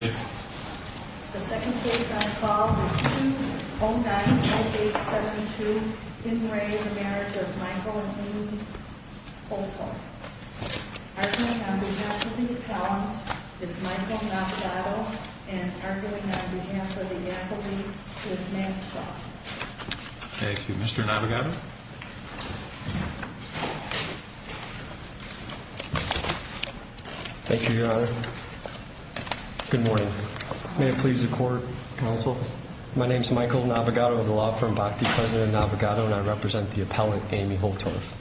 Arguing on behalf of the account is Michael Navigado, and arguing on behalf of the accolade is Michael Navigado, and I represent the appellant Amy Holtorf.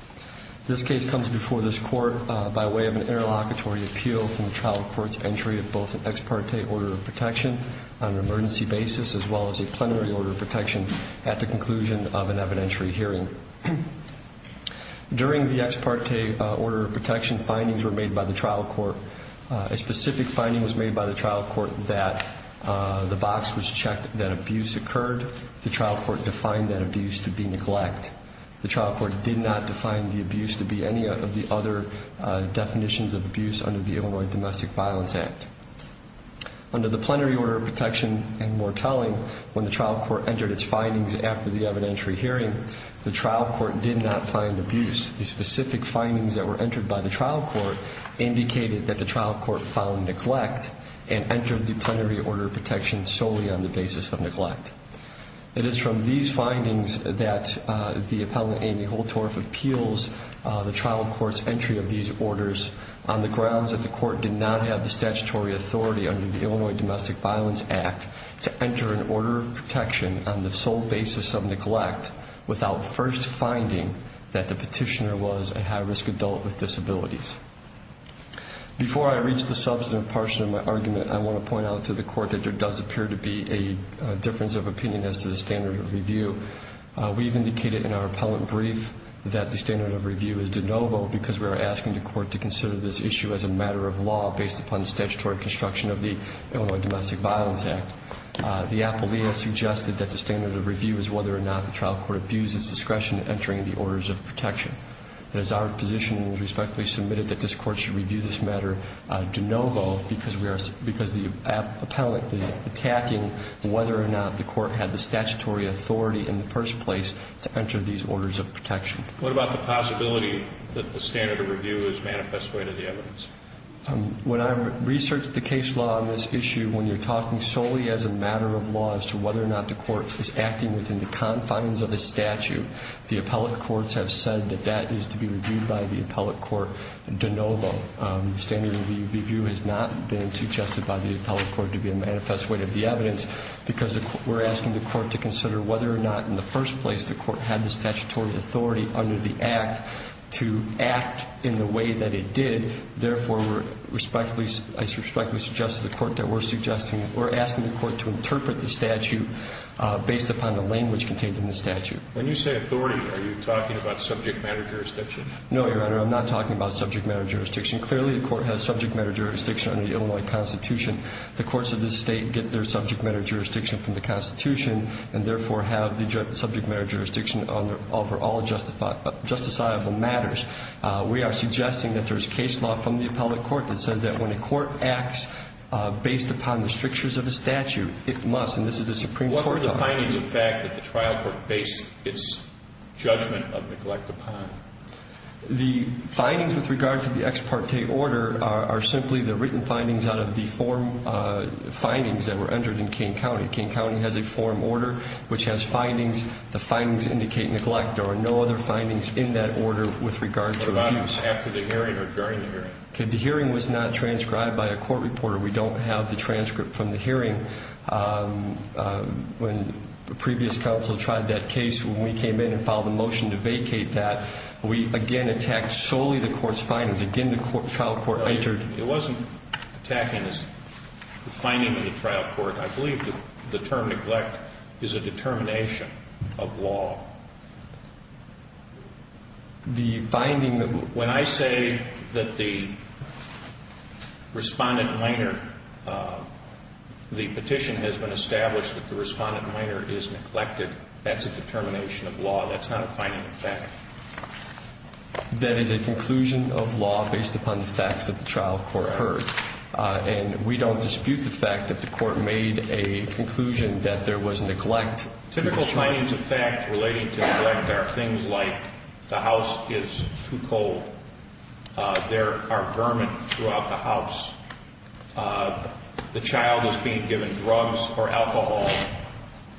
This case comes before this court by way of an interlocutory appeal from the trial court's entry of both an ex parte order of protection on an emergency basis, as well as a plenary order of protection at the conclusion of an evidentiary hearing. During the ex parte order of protection, findings were made by the trial court. A specific finding was made by the trial court that the box was checked that abuse occurred. The trial court defined that abuse to be neglect. The trial court did not define the abuse to be any of the other definitions of abuse under the Illinois Domestic Violence Act. Under the plenary order of protection and more telling, when the trial court entered its findings after the evidentiary hearing, the trial court did not find abuse. The specific findings that were entered by the trial court indicated that the trial court found neglect and entered the plenary order of protection solely on the basis of neglect. It is from these findings that the appellant Amy Holtorf appeals the trial court's entry of these orders on the grounds that the court did not have the statutory authority under the Illinois Domestic Violence Act to enter an order of protection on the sole basis of neglect without first finding that the petitioner was a high risk adult with disabilities. Before I reach the substantive portion of my argument, I want to point out to the court that there does appear to be a difference of opinion as to the standard of review. We've indicated in our appellant brief that the standard of review is de novo because we are asking the court to consider this issue as a matter of law based upon the statutory construction of the Illinois Domestic Violence Act. The appellee has suggested that the standard of review is whether or not the trial court abused its discretion in entering the orders of protection. It is our position and is respectfully submitted that this court should review this matter de novo because the appellant is attacking whether or not the court had the statutory authority in the first place to enter these orders of protection. What about the possibility that the standard of review is manifest way to the evidence? When I research the case law on this issue, when you're talking solely as a matter of law as to whether or not the court is acting within the confines of a statute, the appellate courts have said that that is to be reviewed by the appellate court de novo. The standard of review has not been suggested by the appellate court to be a manifest way to the evidence because we're asking the court to consider whether or not in the first place the court had the statutory authority under the Act to act in the way that it did. Therefore, I respectfully suggest to the court that we're asking the court to interpret the statute based upon the language contained in the statute. When you say authority, are you talking about subject matter jurisdiction? No, Your Honor. I'm not talking about subject matter jurisdiction. Clearly, the court has subject matter jurisdiction under the Illinois Constitution. The courts of this State get their subject matter jurisdiction from the Constitution and, therefore, have the subject matter jurisdiction over all justifiable matters. We are suggesting that there's case law from the appellate court that says that when a court acts based upon the strictures of the statute, it must, and this is the Supreme Court time. What is the fact that the trial court based its judgment of neglect upon? The findings with regard to the ex parte order are simply the written findings out of the form findings that were entered in Kane County. Kane County has a form order which has findings. The findings indicate neglect. There are no other findings in that order with regard to abuse. About after the hearing or during the hearing? The hearing was not transcribed by a court reporter. We don't have the transcript from the hearing. When previous counsel tried that case, when we came in and filed a motion to vacate that, we again attacked solely the court's findings. Again, the trial court entered. It wasn't attacking the findings of the trial court. I believe the term neglect is a determination of law. The finding that when I say that the respondent minor, the petition has been established that the respondent minor is neglected, that's a determination of law. That's not a finding of fact. That is a conclusion of law based upon the facts of the trial court heard. And we don't dispute the fact that the court made a conclusion that there was neglect. Typical findings of fact relating to neglect are things like the house is too cold. There are vermin throughout the house. The child is being given drugs or alcohol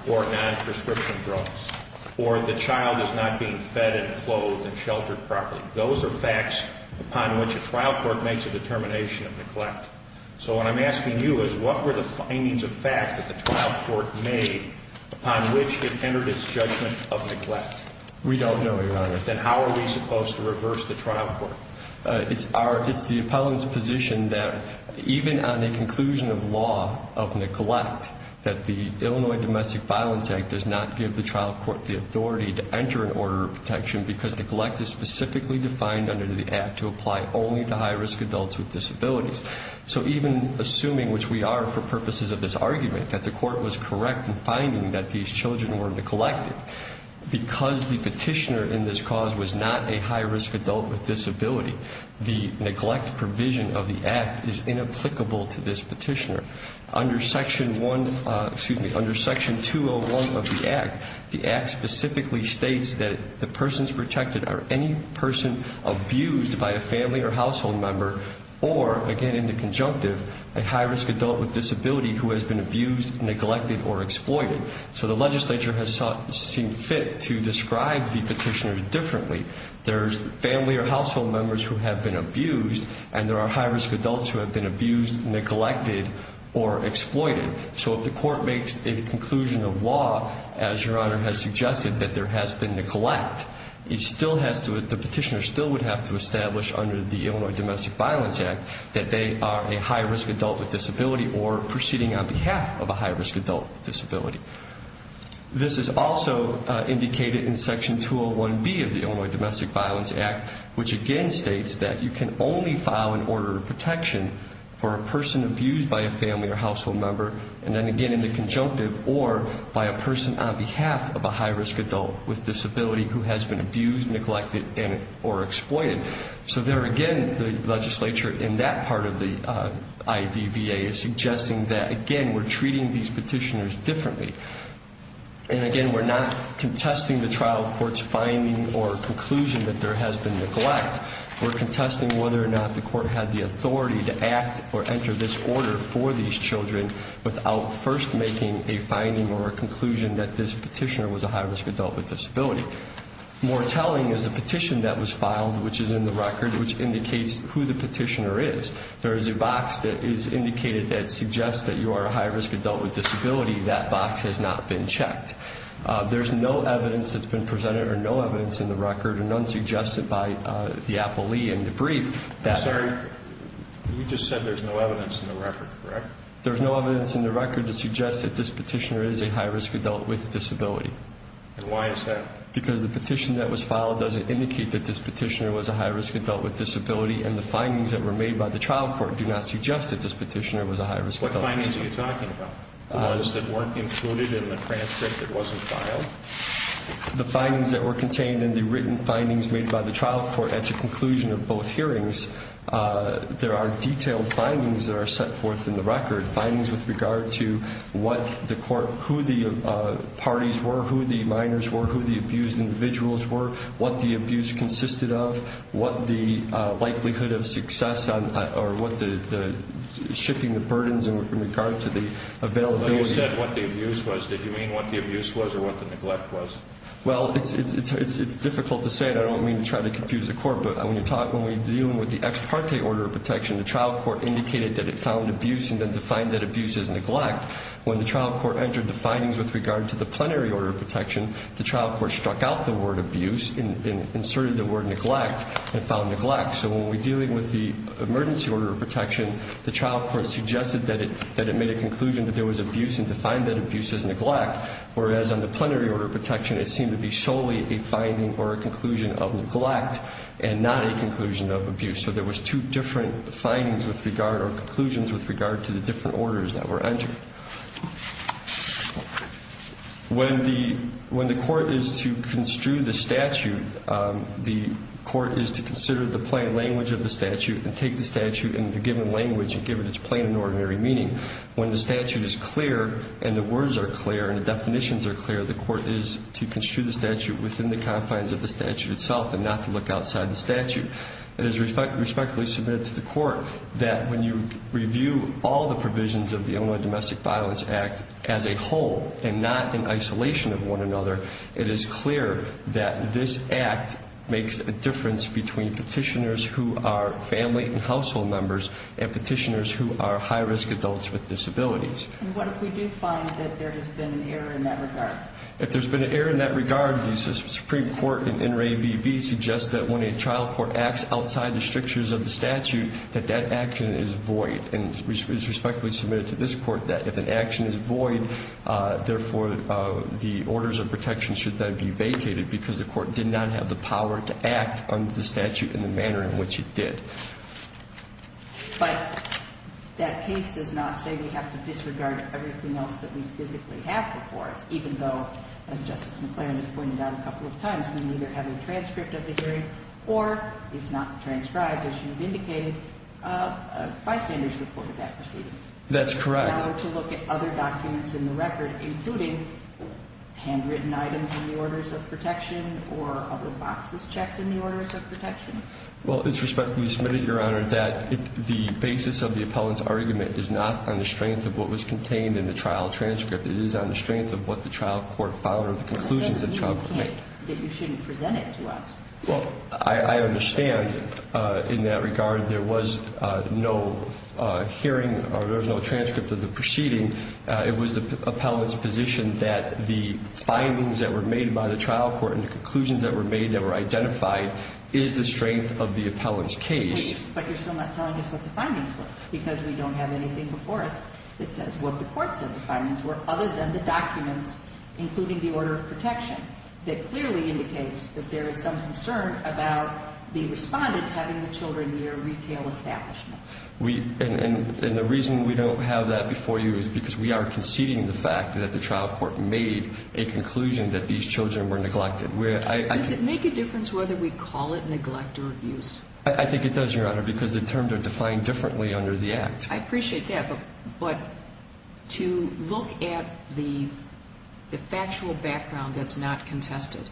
or non-prescription drugs. Or the child is not being fed and clothed and sheltered properly. Those are facts upon which a trial court makes a determination of neglect. So what I'm asking you is what were the findings of fact that the trial court made upon which it entered its judgment of neglect? We don't know, Your Honor. Then how are we supposed to reverse the trial court? It's the appellant's position that even on a conclusion of law of neglect, that the Illinois Domestic Violence Act does not give the trial court the authority to enter an order of protection because neglect is specifically defined under the act to apply only to high-risk adults with disabilities. So even assuming, which we are for purposes of this argument, that the court was correct in finding that these children were neglected, because the petitioner in this cause was not a high-risk adult with disability, the neglect provision of the act is inapplicable to this petitioner. Under Section 201 of the act, the act specifically states that the persons protected are any person abused by a family or household member, or, again in the conjunctive, a high-risk adult with disability who has been abused, neglected, or exploited. So the legislature has seen fit to describe the petitioner differently. There's family or household members who have been abused, and there are high-risk adults who have been abused, neglected, or exploited. So if the court makes a conclusion of law, as Your Honor has suggested, that there has been neglect, the petitioner still would have to establish under the Illinois Domestic Violence Act that they are a high-risk adult with disability or proceeding on behalf of a high-risk adult with disability. This is also indicated in Section 201B of the Illinois Domestic Violence Act, which again states that you can only file an order of protection for a person abused by a family or household member, and then again in the conjunctive, or by a person on behalf of a high-risk adult with disability who has been abused, neglected, or exploited. So there again, the legislature in that part of the IDVA is suggesting that, again, we're treating these petitioners differently. And again, we're not contesting the trial court's finding or conclusion that there has been neglect. We're contesting whether or not the court had the authority to act or enter this order for these children without first making a finding or a conclusion that this petitioner was a high-risk adult with disability. More telling is the petition that was filed, which is in the record, which indicates who the petitioner is. There is a box that is indicated that suggests that you are a high-risk adult with disability. That box has not been checked. There's no evidence that's been presented or no evidence in the record, and none suggested by the appellee in the brief. I'm sorry, you just said there's no evidence in the record, correct? There's no evidence in the record to suggest that this petitioner is a high-risk adult with disability. And why is that? Because the petition that was filed doesn't indicate that this petitioner was a high-risk adult with disability, and the findings that were made by the trial court do not suggest that this petitioner was a high-risk adult with disability. What findings are you talking about? The ones that weren't included in the transcript that wasn't filed? The findings that were contained in the written findings made by the trial court at the conclusion of both hearings. There are detailed findings that are set forth in the record, findings with regard to who the parties were, who the minors were, who the abused individuals were, what the abuse consisted of, what the likelihood of success or what the shifting of burdens in regard to the availability. When you said what the abuse was, did you mean what the abuse was or what the neglect was? Well, it's difficult to say, and I don't mean to try to confuse the court, but when we're dealing with the ex parte order of protection, the trial court indicated that it found abuse and then defined that abuse as neglect. When the trial court entered the findings with regard to the plenary order of protection, the trial court struck out the word abuse and inserted the word neglect and found neglect. So when we're dealing with the emergency order of protection, the trial court suggested that it made a conclusion that there was abuse and defined that abuse as neglect, whereas on the plenary order of protection it seemed to be solely a finding or a conclusion of neglect and not a conclusion of abuse. So there was two different findings with regard or conclusions with regard to the different orders that were entered. When the court is to construe the statute, the court is to consider the plain language of the statute and take the statute in the given language and give it its plain and ordinary meaning. When the statute is clear and the words are clear and the definitions are clear, the court is to construe the statute within the confines of the statute itself and not to look outside the statute. It is respectfully submitted to the court that when you review all the provisions of the Illinois Domestic Violence Act as a whole and not in isolation of one another, it is clear that this act makes a difference between petitioners who are family and household members and petitioners who are high-risk adults with disabilities. And what if we do find that there has been an error in that regard? If there's been an error in that regard, the Supreme Court in NRA VB suggests that when a trial court acts outside the strictures of the statute, that that action is void and is respectfully submitted to this court that if an action is void, therefore, the orders of protection should then be vacated because the court did not have the power to act under the statute in the manner in which it did. But that case does not say we have to disregard everything else that we physically have before us, even though, as Justice McClaren has pointed out a couple of times, we neither have a transcript of the hearing or, if not transcribed as you've indicated, a bystander's report of that proceedings. That's correct. Now to look at other documents in the record, including handwritten items in the orders of protection or other boxes checked in the orders of protection. Well, it's respectfully submitted, Your Honor, that the basis of the appellant's argument is not on the strength of what was contained in the trial transcript. It is on the strength of what the trial court found or the conclusions that the trial court made. That you shouldn't present it to us. Well, I understand in that regard there was no hearing or there was no transcript of the proceeding. It was the appellant's position that the findings that were made by the trial court and the conclusions that were made that were identified is the strength of the appellant's case. But you're still not telling us what the findings were, because we don't have anything before us that says what the court said the findings were, other than the documents, including the order of protection, that clearly indicates that there is some concern about the respondent having the children near a retail establishment. And the reason we don't have that before you is because we are conceding the fact that the trial court made a conclusion that these children were neglected. Does it make a difference whether we call it neglect or abuse? I think it does, Your Honor, because the terms are defined differently under the Act. I appreciate that, but to look at the factual background that's not contested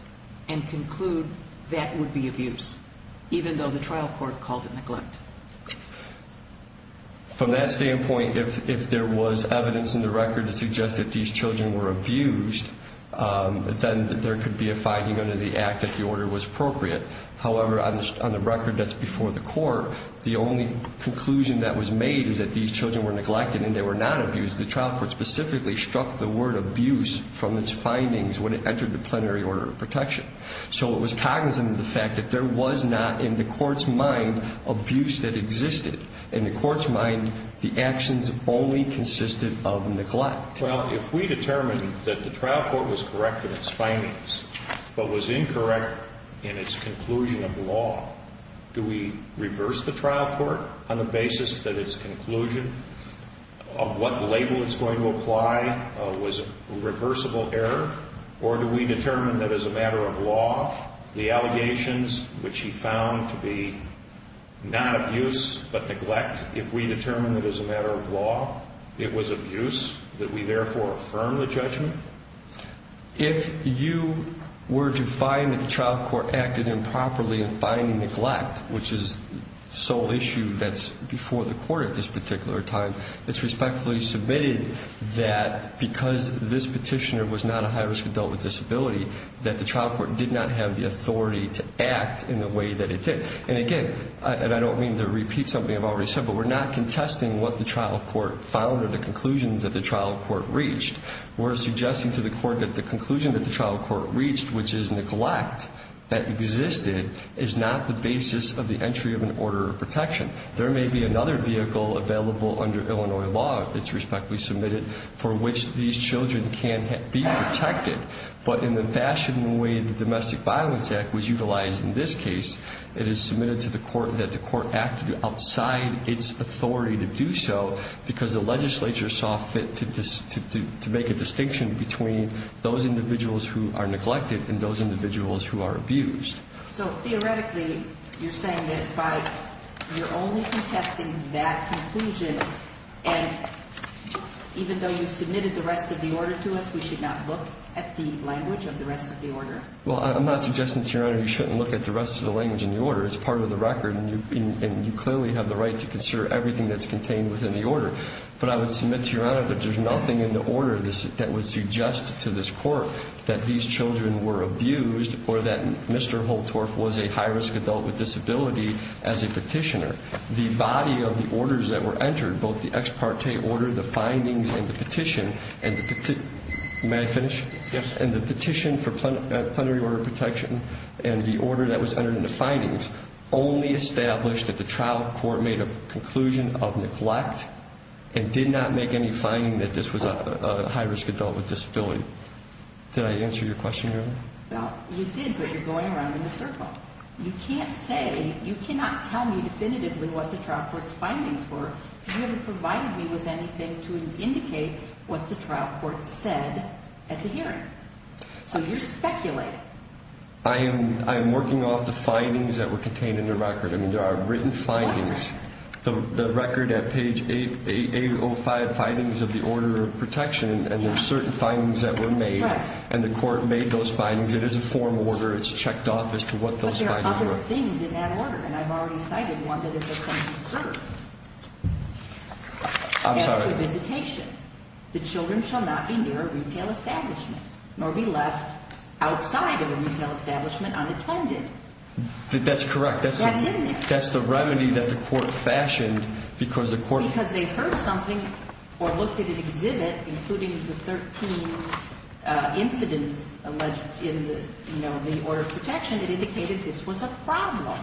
and conclude that would be abuse, even though the trial court called it neglect. From that standpoint, if there was evidence in the record to suggest that these children were abused, then there could be a finding under the Act that the order was appropriate. However, on the record that's before the court, the only conclusion that was made is that these children were neglected and they were not abused. The trial court specifically struck the word abuse from its findings when it entered the plenary order of protection. So it was cognizant of the fact that there was not, in the court's mind, abuse that existed. In the court's mind, the actions only consisted of neglect. Well, if we determine that the trial court was correct in its findings but was incorrect in its conclusion of law, do we reverse the trial court on the basis that its conclusion of what label it's going to apply was a reversible error? Or do we determine that as a matter of law, the allegations which he found to be not abuse but neglect, if we determine that as a matter of law it was abuse, that we therefore affirm the judgment? If you were to find that the trial court acted improperly in finding neglect, which is the sole issue that's before the court at this particular time, it's respectfully submitted that because this petitioner was not a high-risk adult with disability, that the trial court did not have the authority to act in the way that it did. And again, and I don't mean to repeat something I've already said, but we're not contesting what the trial court found or the conclusions that the trial court reached. We're suggesting to the court that the conclusion that the trial court reached, which is neglect that existed, is not the basis of the entry of an order of protection. There may be another vehicle available under Illinois law, it's respectfully submitted, for which these children can be protected. But in the fashion and way the Domestic Violence Act was utilized in this case, it is submitted to the court that the court acted outside its authority to do so because the legislature saw fit to make a distinction between those individuals who are neglected and those individuals who are abused. So theoretically, you're saying that you're only contesting that conclusion, and even though you've submitted the rest of the order to us, we should not look at the language of the rest of the order? Well, I'm not suggesting to Your Honor you shouldn't look at the rest of the language in the order. It's part of the record, and you clearly have the right to consider everything that's contained within the order. But I would submit to Your Honor that there's nothing in the order that would suggest to this court that these children were abused or that Mr. Holtorf was a high-risk adult with disability as a petitioner. The body of the orders that were entered, both the ex parte order, the findings, and the petition, and the petition for plenary order protection, and the order that was entered in the findings, only established that the trial court made a conclusion of neglect and did not make any finding that this was a high-risk adult with disability. Did I answer your question, Your Honor? Well, you did, but you're going around in a circle. You can't say, you cannot tell me definitively what the trial court's findings were because you haven't provided me with anything to indicate what the trial court said at the hearing. So you're speculating. I am working off the findings that were contained in the record. I mean, there are written findings, the record at page 805, findings of the order of protection, and there's certain findings that were made, and the court made those findings. It is a form order. It's checked off as to what those findings were. But there are other things in that order, and I've already cited one that is of some concern. I'm sorry. As to visitation, the children shall not be near a retail establishment nor be left outside of a retail establishment unattended. That's correct. That's in there. That's the remedy that the court fashioned because the court— the order of protection that indicated this was a problem.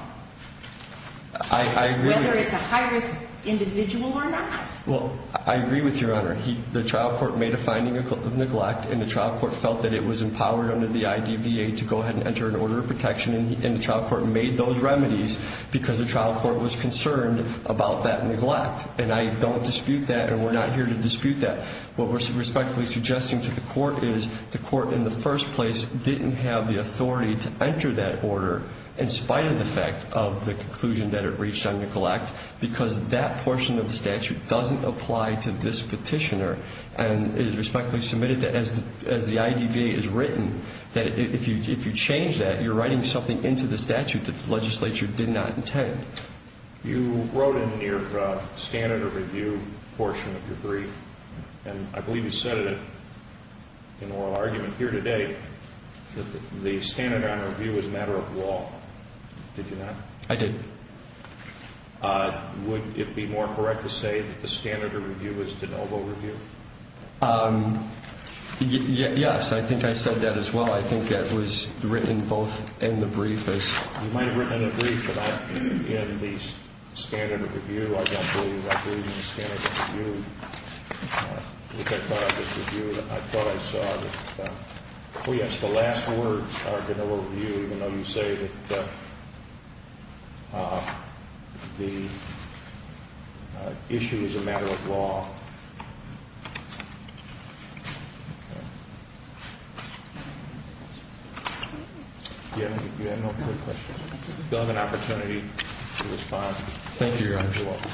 I agree. Whether it's a high-risk individual or not. Well, I agree with Your Honor. The trial court made a finding of neglect, and the trial court felt that it was empowered under the IDVA to go ahead and enter an order of protection, and the trial court made those remedies because the trial court was concerned about that neglect. And I don't dispute that, and we're not here to dispute that. What we're respectfully suggesting to the court is the court, in the first place, didn't have the authority to enter that order in spite of the fact of the conclusion that it reached on neglect because that portion of the statute doesn't apply to this petitioner. And it is respectfully submitted that as the IDVA has written, that if you change that, you're writing something into the statute that the legislature did not intend. You wrote in your standard of review portion of your brief, and I believe you said it in oral argument here today, that the standard on review is a matter of law. Did you not? I did. Would it be more correct to say that the standard of review is de novo review? Yes. I think I said that as well. I think that was written both in the brief as— Yes, in the standard of review. I don't believe in the standard of review. I thought I just reviewed it. I thought I saw it. Oh, yes, the last words are de novo review, even though you say that the issue is a matter of law. You have no further questions? I feel I have an opportunity to respond. Thank you, Your Honor. You're welcome.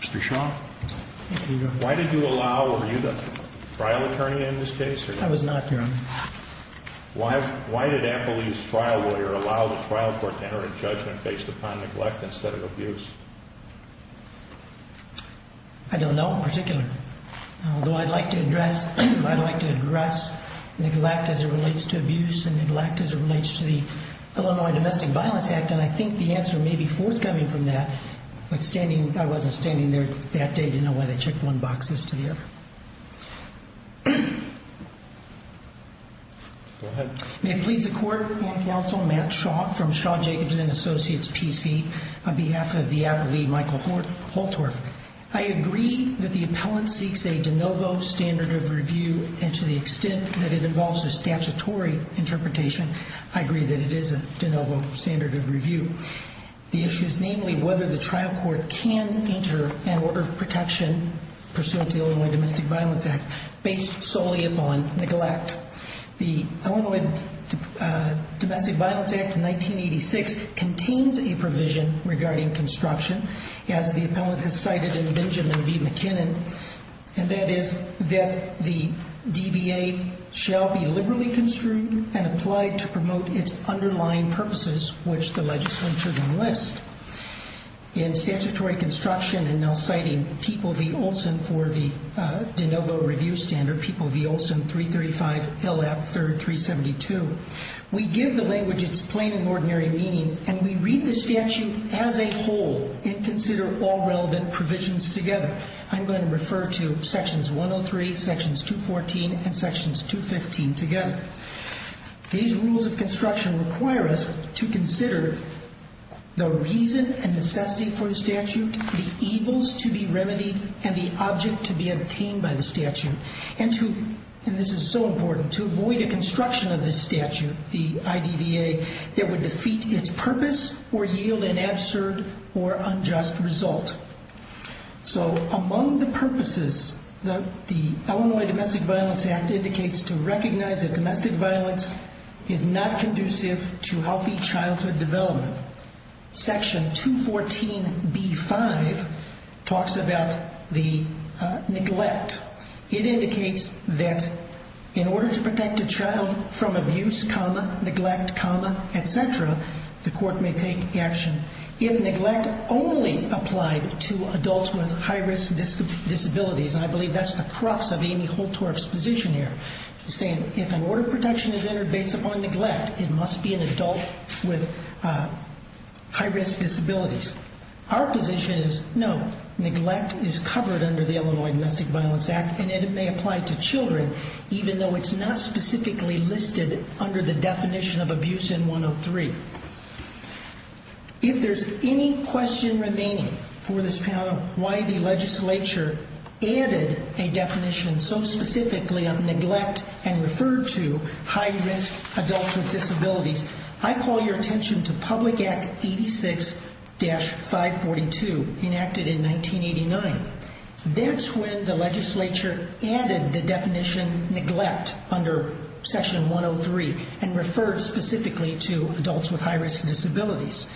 Mr. Shaw. Thank you, Your Honor. Why did you allow—were you the trial attorney in this case? I was not, Your Honor. Why did Appleby's trial lawyer allow the trial court to enter into judgment based upon neglect instead of abuse? I don't know in particular. Although I'd like to address neglect as it relates to abuse and neglect as it relates to the Illinois Domestic Violence Act, and I think the answer may be forthcoming from that, but standing—I wasn't standing there that day to know why they checked one box instead of the other. Go ahead. May it please the Court and counsel, I'm Matt Shaw from Shaw, Jacobs & Associates, PC, on behalf of the Appleby Michael Holtorf. I agree that the appellant seeks a de novo standard of review, and to the extent that it involves a statutory interpretation, I agree that it is a de novo standard of review. The issue is namely whether the trial court can enter an order of protection pursuant to the Illinois Domestic Violence Act based solely upon neglect. The Illinois Domestic Violence Act of 1986 contains a provision regarding construction, as the appellant has cited in Benjamin v. McKinnon, and that is that the DBA shall be liberally construed and applied to promote its underlying purposes, which the legislature then lists. In statutory construction, and now citing People v. Olson for the de novo review standard, People v. Olson, 335 L.F. 3rd 372, we give the language its plain and ordinary meaning, and we read the statute as a whole and consider all relevant provisions together. I'm going to refer to sections 103, sections 214, and sections 215 together. These rules of construction require us to consider the reason and necessity for the statute, the evils to be remedied, and the object to be obtained by the statute, and to, and this is so important, to avoid a construction of this statute, the IDVA, that would defeat its purpose or yield an absurd or unjust result. So, among the purposes, the Illinois Domestic Violence Act indicates to recognize that domestic violence is not conducive to healthy childhood development. Section 214b-5 talks about the neglect. It indicates that in order to protect a child from abuse, neglect, et cetera, the court may take action. If neglect only applied to adults with high-risk disabilities, and I believe that's the crux of Amy Holtorf's position here, saying if an order of protection is entered based upon neglect, it must be an adult with high-risk disabilities. Our position is, no, neglect is covered under the Illinois Domestic Violence Act, and it may apply to children, even though it's not specifically listed under the definition of abuse in 103. If there's any question remaining for this panel, why the legislature added a definition so specifically of neglect and referred to high-risk adults with disabilities, I call your attention to Public Act 86-542, enacted in 1989. That's when the legislature added the definition neglect under section 103 and referred specifically to adults with high-risk disabilities.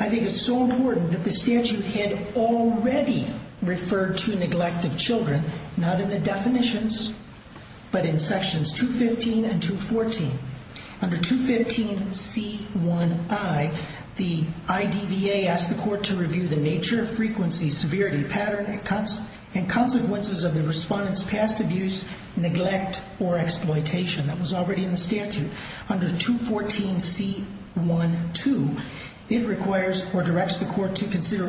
I think it's so important that the statute had already referred to neglect of children, not in the definitions, but in sections 215 and 214. Under 215C1I, the IDVA asked the court to review the nature, frequency, severity, pattern, and consequences of the respondent's past abuse, neglect, or exploitation. That was already in the statute. Under 214C12, it requires or directs the court to consider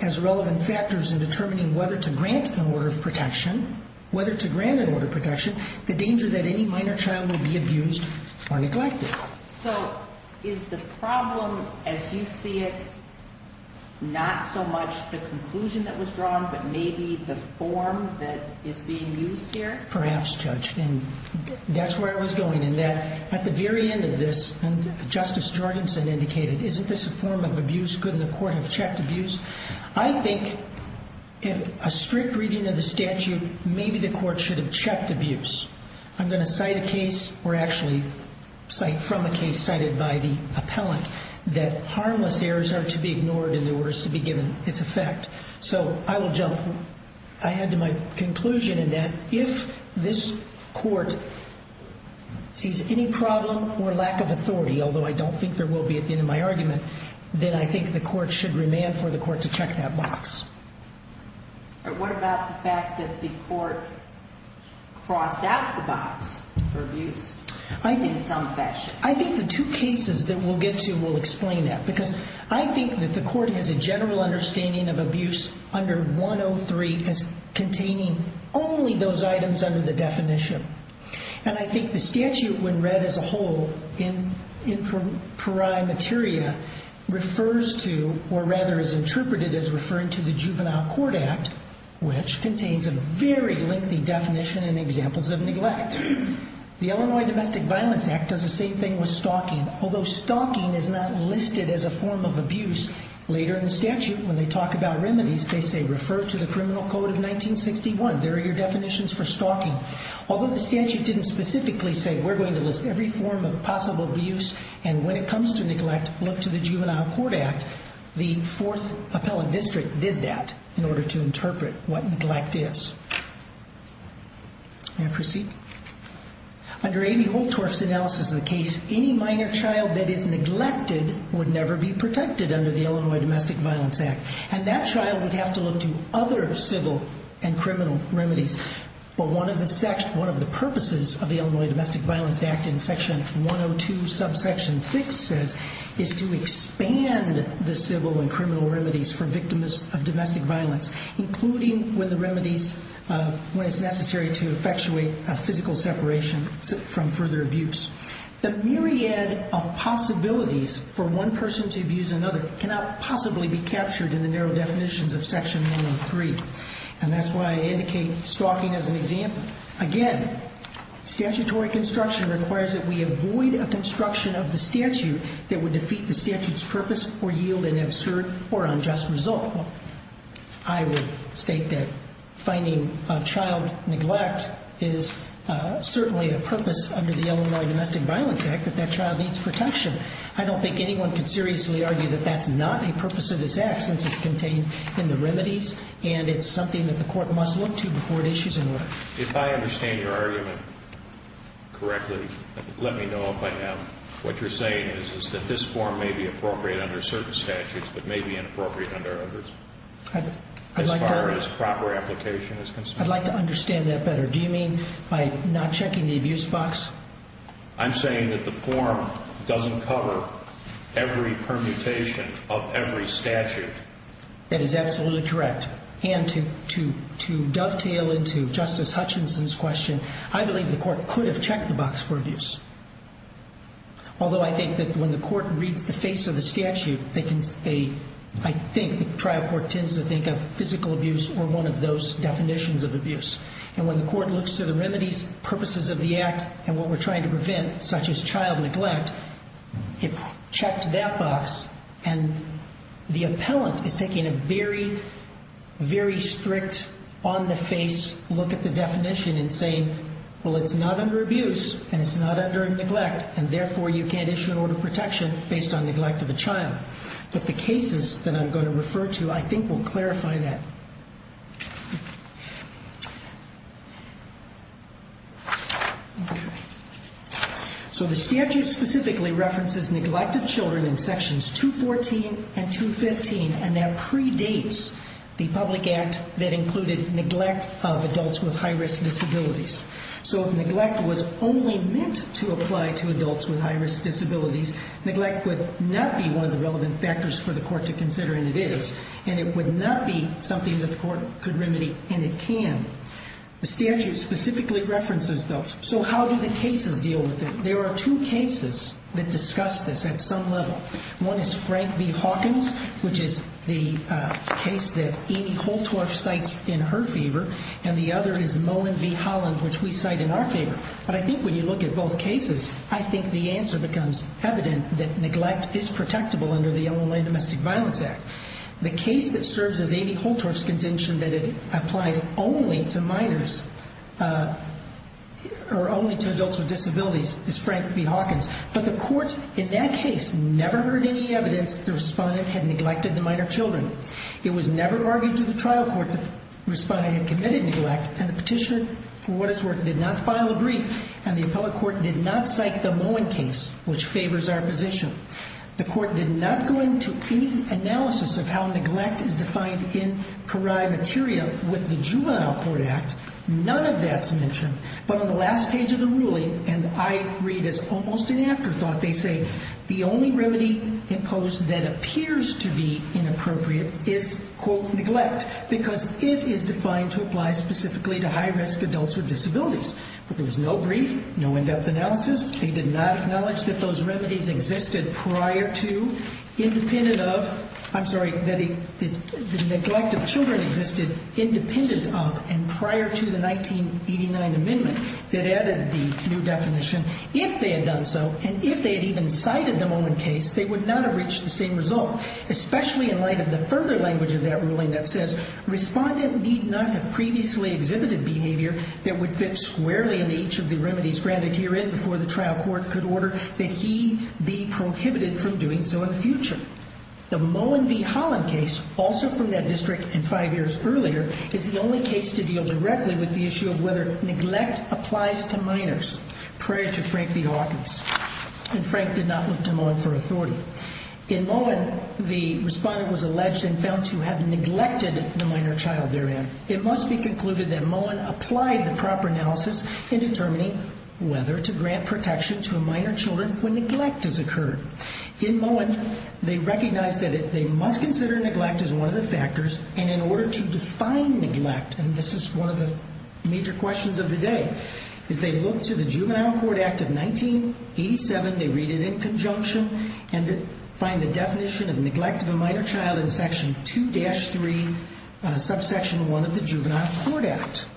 as relevant factors in determining whether to grant an order of protection the danger that any minor child will be abused or neglected. So is the problem, as you see it, not so much the conclusion that was drawn, but maybe the form that is being used here? Perhaps, Judge, and that's where I was going in that at the very end of this, and Justice Jorgensen indicated, isn't this a form of abuse? Couldn't the court have checked abuse? I think, in a strict reading of the statute, maybe the court should have checked abuse. I'm going to cite a case, or actually cite from a case cited by the appellant, that harmless errors are to be ignored in the orders to be given its effect. So I will jump ahead to my conclusion in that if this court sees any problem or lack of authority, although I don't think there will be at the end of my argument, then I think the court should remand for the court to check that box. What about the fact that the court crossed out the box for abuse in some fashion? I think the two cases that we'll get to will explain that, because I think that the court has a general understanding of abuse under 103 as containing only those items under the definition. And I think the statute, when read as a whole in pari materia, refers to, or rather is interpreted as referring to, the Juvenile Court Act, which contains a very lengthy definition and examples of neglect. The Illinois Domestic Violence Act does the same thing with stalking, although stalking is not listed as a form of abuse. Later in the statute, when they talk about remedies, they say, refer to the Criminal Code of 1961. There are your definitions for stalking. Although the statute didn't specifically say, we're going to list every form of possible abuse, and when it comes to neglect, look to the Juvenile Court Act, the 4th Appellate District did that in order to interpret what neglect is. May I proceed? Under A.B. Holtorf's analysis of the case, any minor child that is neglected would never be protected under the Illinois Domestic Violence Act. And that child would have to look to other civil and criminal remedies. But one of the purposes of the Illinois Domestic Violence Act in section 102, subsection 6 says, is to expand the civil and criminal remedies for victims of domestic violence, including when it's necessary to effectuate a physical separation from further abuse. The myriad of possibilities for one person to abuse another cannot possibly be captured in the narrow definitions of section 103. And that's why I indicate stalking as an example. Again, statutory construction requires that we avoid a construction of the statute that would defeat the statute's purpose or yield an absurd or unjust result. I would state that finding a child neglect is certainly a purpose under the Illinois Domestic Violence Act that that child needs protection. I don't think anyone can seriously argue that that's not a purpose of this act since it's contained in the remedies, and it's something that the court must look to before it issues an order. If I understand your argument correctly, let me know if I'm wrong. What you're saying is that this form may be appropriate under certain statutes but may be inappropriate under others as far as proper application is concerned. I'd like to understand that better. Do you mean by not checking the abuse box? I'm saying that the form doesn't cover every permutation of every statute. That is absolutely correct. And to dovetail into Justice Hutchinson's question, I believe the court could have checked the box for abuse. Although I think that when the court reads the face of the statute, I think the trial court tends to think of physical abuse or one of those definitions of abuse. And when the court looks to the remedies, purposes of the act, and what we're trying to prevent such as child neglect, it checked that box, and the appellant is taking a very, very strict, on-the-face look at the definition and saying, well, it's not under abuse and it's not under neglect, and therefore you can't issue an order of protection based on neglect of a child. But the cases that I'm going to refer to I think will clarify that. So the statute specifically references neglect of children in sections 214 and 215, and that predates the public act that included neglect of adults with high-risk disabilities. So if neglect was only meant to apply to adults with high-risk disabilities, neglect would not be one of the relevant factors for the court to consider, and it is. It would not be something that the court could remedy, and it can. The statute specifically references those. So how do the cases deal with it? There are two cases that discuss this at some level. One is Frank v. Hawkins, which is the case that Amy Holtorf cites in her favor, and the other is Moen v. Holland, which we cite in our favor. But I think when you look at both cases, I think the answer becomes evident that neglect is protectable under the Illinois Domestic Violence Act. The case that serves as Amy Holtorf's contention that it applies only to minors or only to adults with disabilities is Frank v. Hawkins. But the court in that case never heard any evidence that the respondent had neglected the minor children. It was never argued to the trial court that the respondent had committed neglect, and the petitioner, for what it's worth, did not file a brief, and the appellate court did not cite the Moen case, which favors our position. The court did not go into any analysis of how neglect is defined in pari materia with the Juvenile Court Act. None of that's mentioned. But on the last page of the ruling, and I read as almost an afterthought, they say the only remedy imposed that appears to be inappropriate is, quote, neglect, because it is defined to apply specifically to high-risk adults with disabilities. But there was no brief, no in-depth analysis. They did not acknowledge that those remedies existed prior to, independent of, I'm sorry, that the neglect of children existed independent of and prior to the 1989 amendment that added the new definition, if they had done so, and if they had even cited the Moen case, they would not have reached the same result, especially in light of the further language of that ruling that says respondent need not have previously exhibited behavior that would fit squarely in each of the remedies granted herein before the trial court could order that he be prohibited from doing so in the future. The Moen v. Holland case, also from that district and five years earlier, is the only case to deal directly with the issue of whether neglect applies to minors, prior to Frank v. Hawkins, and Frank did not look to Moen for authority. In Moen, the respondent was alleged and found to have neglected the minor child therein. It must be concluded that Moen applied the proper analysis in determining whether to grant protection to a minor child when neglect has occurred. In Moen, they recognized that they must consider neglect as one of the factors, and in order to define neglect, and this is one of the major questions of the day, is they look to the Juvenile Court Act of 1987, they read it in conjunction, and find the definition of neglect of a minor child in section 2-3, subsection 1 of the Juvenile Court Act.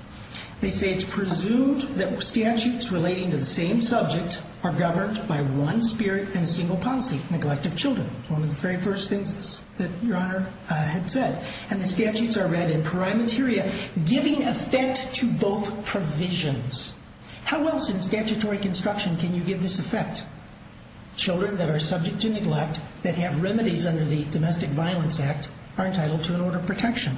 They say it's presumed that statutes relating to the same subject are governed by one spirit and a single policy, neglect of children, one of the very first things that Your Honor had said, and the statutes are read in pari materia, giving effect to both provisions. How else in statutory construction can you give this effect? Children that are subject to neglect, that have remedies under the Domestic Violence Act, are entitled to an order of protection.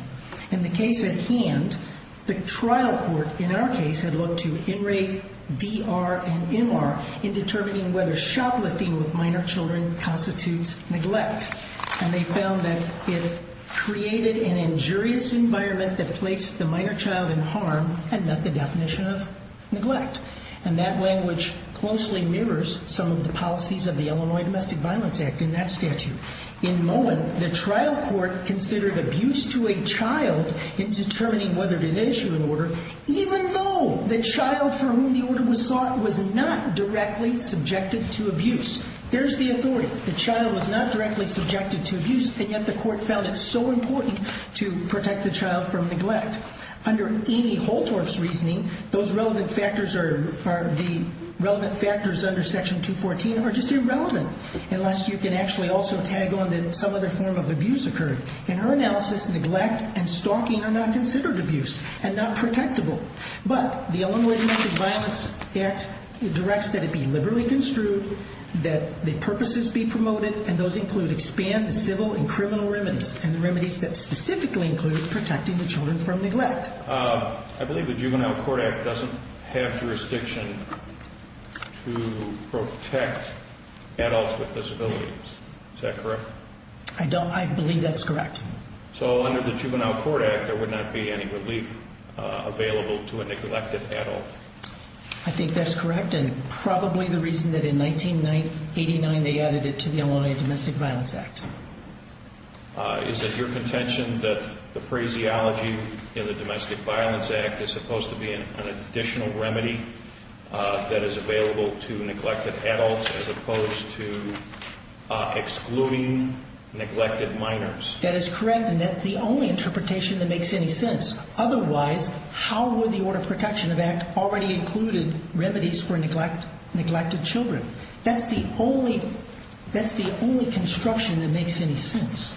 In the case at hand, the trial court in our case had looked to In Re, D.R., and M.R. in determining whether shoplifting with minor children constitutes neglect, and they found that it created an injurious environment that placed the minor child in harm and met the definition of neglect. And that language closely mirrors some of the policies of the Illinois Domestic Violence Act in that statute. In Moen, the trial court considered abuse to a child in determining whether to issue an order, even though the child for whom the order was sought was not directly subjected to abuse. There's the authority. The child was not directly subjected to abuse, and yet the court found it so important to protect the child from neglect. Under Amy Holtorf's reasoning, those relevant factors under Section 214 are just irrelevant, unless you can actually also tag on that some other form of abuse occurred. In her analysis, neglect and stalking are not considered abuse and not protectable. But the Illinois Domestic Violence Act directs that it be liberally construed, that the purposes be promoted, and those include expand the civil and criminal remedies, and the remedies that specifically include protecting the children from neglect. I believe the Juvenile Court Act doesn't have jurisdiction to protect adults with disabilities. Is that correct? I believe that's correct. So under the Juvenile Court Act, there would not be any relief available to a neglected adult. I think that's correct, and probably the reason that in 1989 they added it to the Illinois Domestic Violence Act. Is it your contention that the phraseology in the Domestic Violence Act is supposed to be an additional remedy that is available to neglected adults as opposed to excluding neglected minors? That is correct, and that's the only interpretation that makes any sense. Otherwise, how would the Order of Protection Act already included remedies for neglected children? That's the only construction that makes any sense.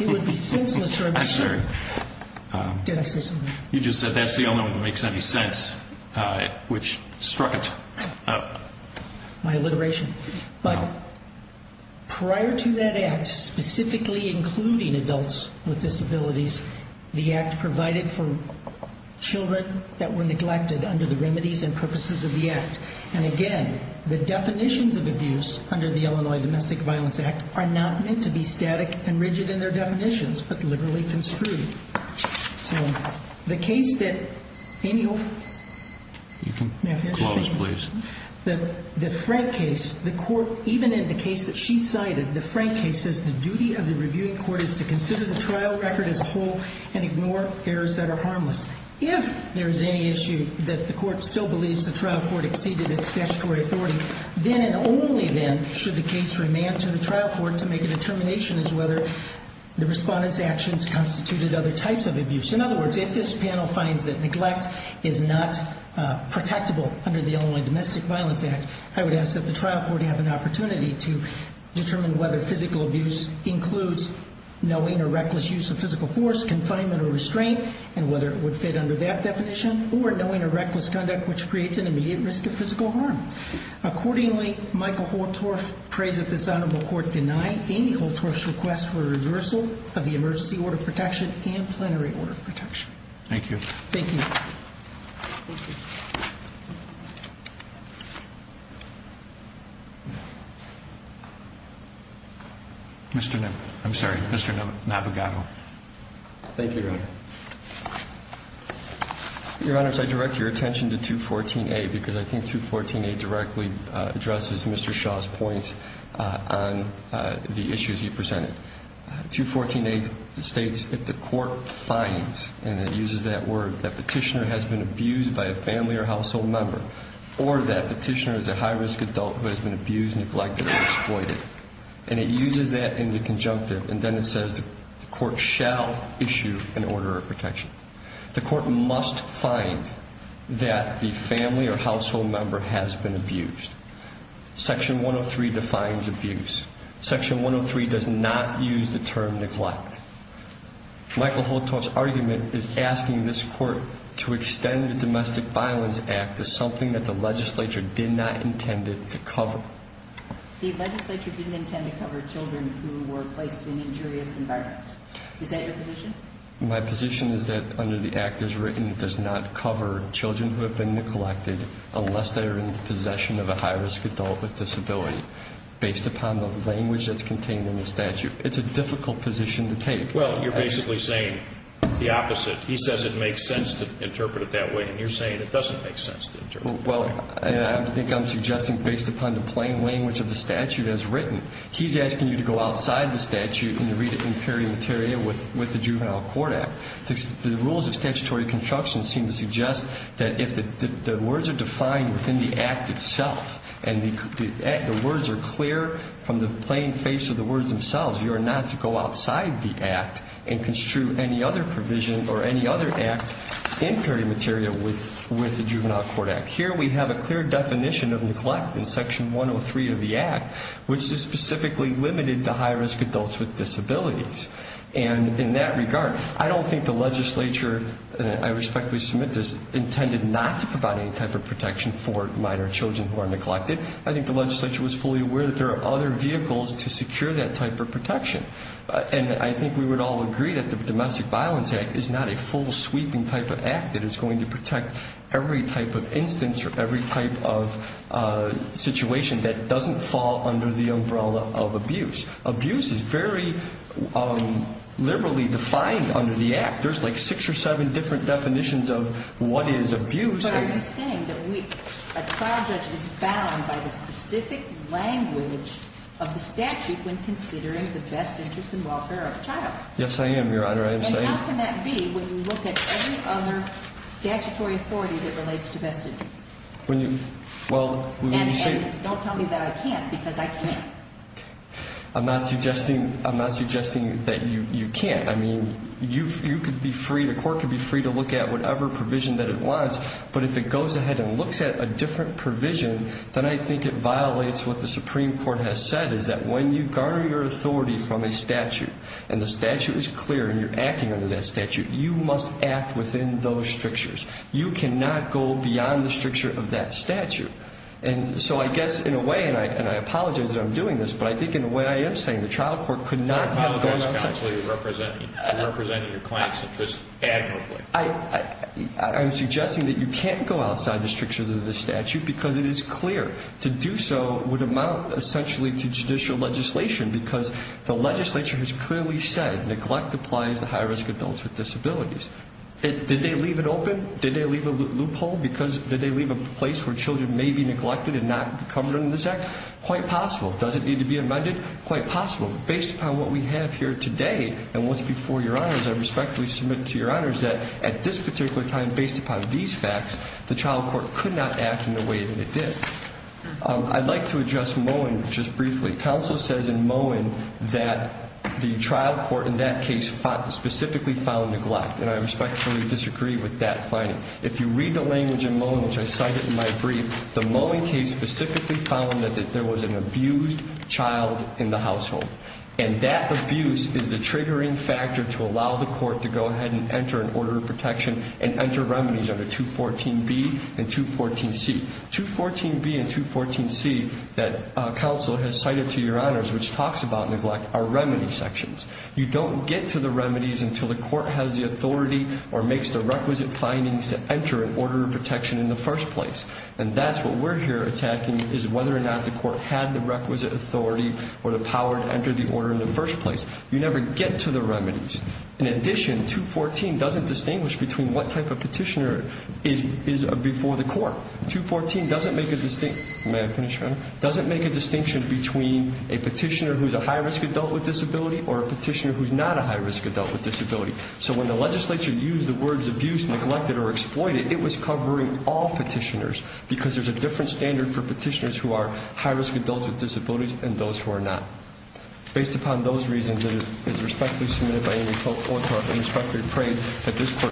It would be senseless or absurd. I'm sorry. Did I say something? You just said that's the only one that makes any sense, which struck it. My alliteration. But prior to that Act specifically including adults with disabilities, the Act provided for children that were neglected under the remedies and purposes of the Act. And again, the definitions of abuse under the Illinois Domestic Violence Act are not meant to be static and rigid in their definitions, but literally construed. So the case that Amy Holt. You can close, please. The Frank case, the court, even in the case that she cited, the Frank case, says the duty of the reviewing court is to consider the trial record as whole and ignore errors that are harmless. If there is any issue that the court still believes the trial court exceeded its statutory authority, then and only then should the case remand to the trial court to make a determination as to whether the respondent's actions constituted other types of abuse. In other words, if this panel finds that neglect is not protectable under the Illinois Domestic Violence Act, I would ask that the trial court have an opportunity to determine whether physical abuse includes knowing a reckless use of physical force, confinement, or restraint, and whether it would fit under that definition, or knowing a reckless conduct which creates an immediate risk of physical harm. Accordingly, Michael Holtorf prays that this honorable court deny Amy Holtorf's request for reversal of the emergency order of protection and plenary order of protection. Thank you. Thank you. Thank you. Mr. No, I'm sorry, Mr. Navigato. Thank you, Your Honor. Your Honor, as I direct your attention to 214A, because I think 214A directly addresses Mr. Shaw's points on the issues he presented. 214A states if the court finds, and it uses that word, that petitioner has been abused by a family or household member, or that petitioner is a high-risk adult who has been abused, neglected, or exploited, and it uses that in the conjunctive, and then it says the court shall issue an order of protection. The court must find that the family or household member has been abused. Section 103 defines abuse. Section 103 does not use the term neglect. Michael Holtorf's argument is asking this court to extend the Domestic Violence Act to something that the legislature did not intend to cover. The legislature didn't intend to cover children who were placed in injurious environments. Is that your position? My position is that under the act as written it does not cover children who have been neglected unless they are in the possession of a high-risk adult with disability. Based upon the language that's contained in the statute, it's a difficult position to take. Well, you're basically saying the opposite. He says it makes sense to interpret it that way, and you're saying it doesn't make sense to interpret it that way. Well, I think I'm suggesting based upon the plain language of the statute as written. He's asking you to go outside the statute and to read it in perimeteria with the Juvenile Court Act. The rules of statutory construction seem to suggest that if the words are defined within the act itself and the words are clear from the plain face of the words themselves, you are not to go outside the act and construe any other provision or any other act in perimeteria with the Juvenile Court Act. Here we have a clear definition of neglect in Section 103 of the act, which is specifically limited to high-risk adults with disabilities. And in that regard, I don't think the legislature, and I respectfully submit this, intended not to provide any type of protection for minor children who are neglected. I think the legislature was fully aware that there are other vehicles to secure that type of protection. And I think we would all agree that the Domestic Violence Act is not a full sweeping type of act that is going to protect every type of instance or every type of situation that doesn't fall under the umbrella of abuse. Abuse is very liberally defined under the act. There's like six or seven different definitions of what is abuse. But are you saying that a trial judge is bound by the specific language of the statute when considering the best interests and welfare of a child? Yes, I am, Your Honor. I am saying that. And how can that be when you look at any other statutory authority that relates to best interests? And don't tell me that I can't, because I can't. I'm not suggesting that you can't. I mean, you could be free, the court could be free to look at whatever provision that it wants. But if it goes ahead and looks at a different provision, then I think it violates what the Supreme Court has said, is that when you garner your authority from a statute and the statute is clear and you're acting under that statute, you must act within those strictures. You cannot go beyond the stricture of that statute. And so I guess in a way, and I apologize that I'm doing this, but I think in a way I am saying the trial court could not go outside. I apologize, counsel, you're representing your client's interests admirably. I'm suggesting that you can't go outside the strictures of the statute because it is clear. To do so would amount essentially to judicial legislation because the legislature has clearly said, neglect applies to high-risk adults with disabilities. Did they leave it open? Did they leave a loophole? Did they leave a place where children may be neglected and not covered under this act? Quite possible. Does it need to be amended? Quite possible. Based upon what we have here today and what's before your honors, I respectfully submit to your honors that at this particular time, based upon these facts, the trial court could not act in the way that it did. I'd like to address Mowen just briefly. Counsel says in Mowen that the trial court in that case specifically found neglect, and I respectfully disagree with that finding. If you read the language in Mowen, which I cited in my brief, the Mowen case specifically found that there was an abused child in the household, and that abuse is the triggering factor to allow the court to go ahead and enter an order of protection and enter remedies under 214B and 214C. 214B and 214C that counsel has cited to your honors, which talks about neglect, are remedy sections. You don't get to the remedies until the court has the authority or makes the requisite findings to enter an order of protection in the first place, and that's what we're here attacking is whether or not the court had the requisite authority or the power to enter the order in the first place. You never get to the remedies. In addition, 214 doesn't distinguish between what type of petitioner is before the court. 214 doesn't make a distinction between a petitioner who's a high-risk adult with disability or a petitioner who's not a high-risk adult with disability. So when the legislature used the words abuse, neglected, or exploited, it was covering all petitioners because there's a different standard for petitioners who are high-risk adults with disabilities and those who are not. Based upon those reasons, it is respectfully submitted by any court, and I respectfully pray that this court...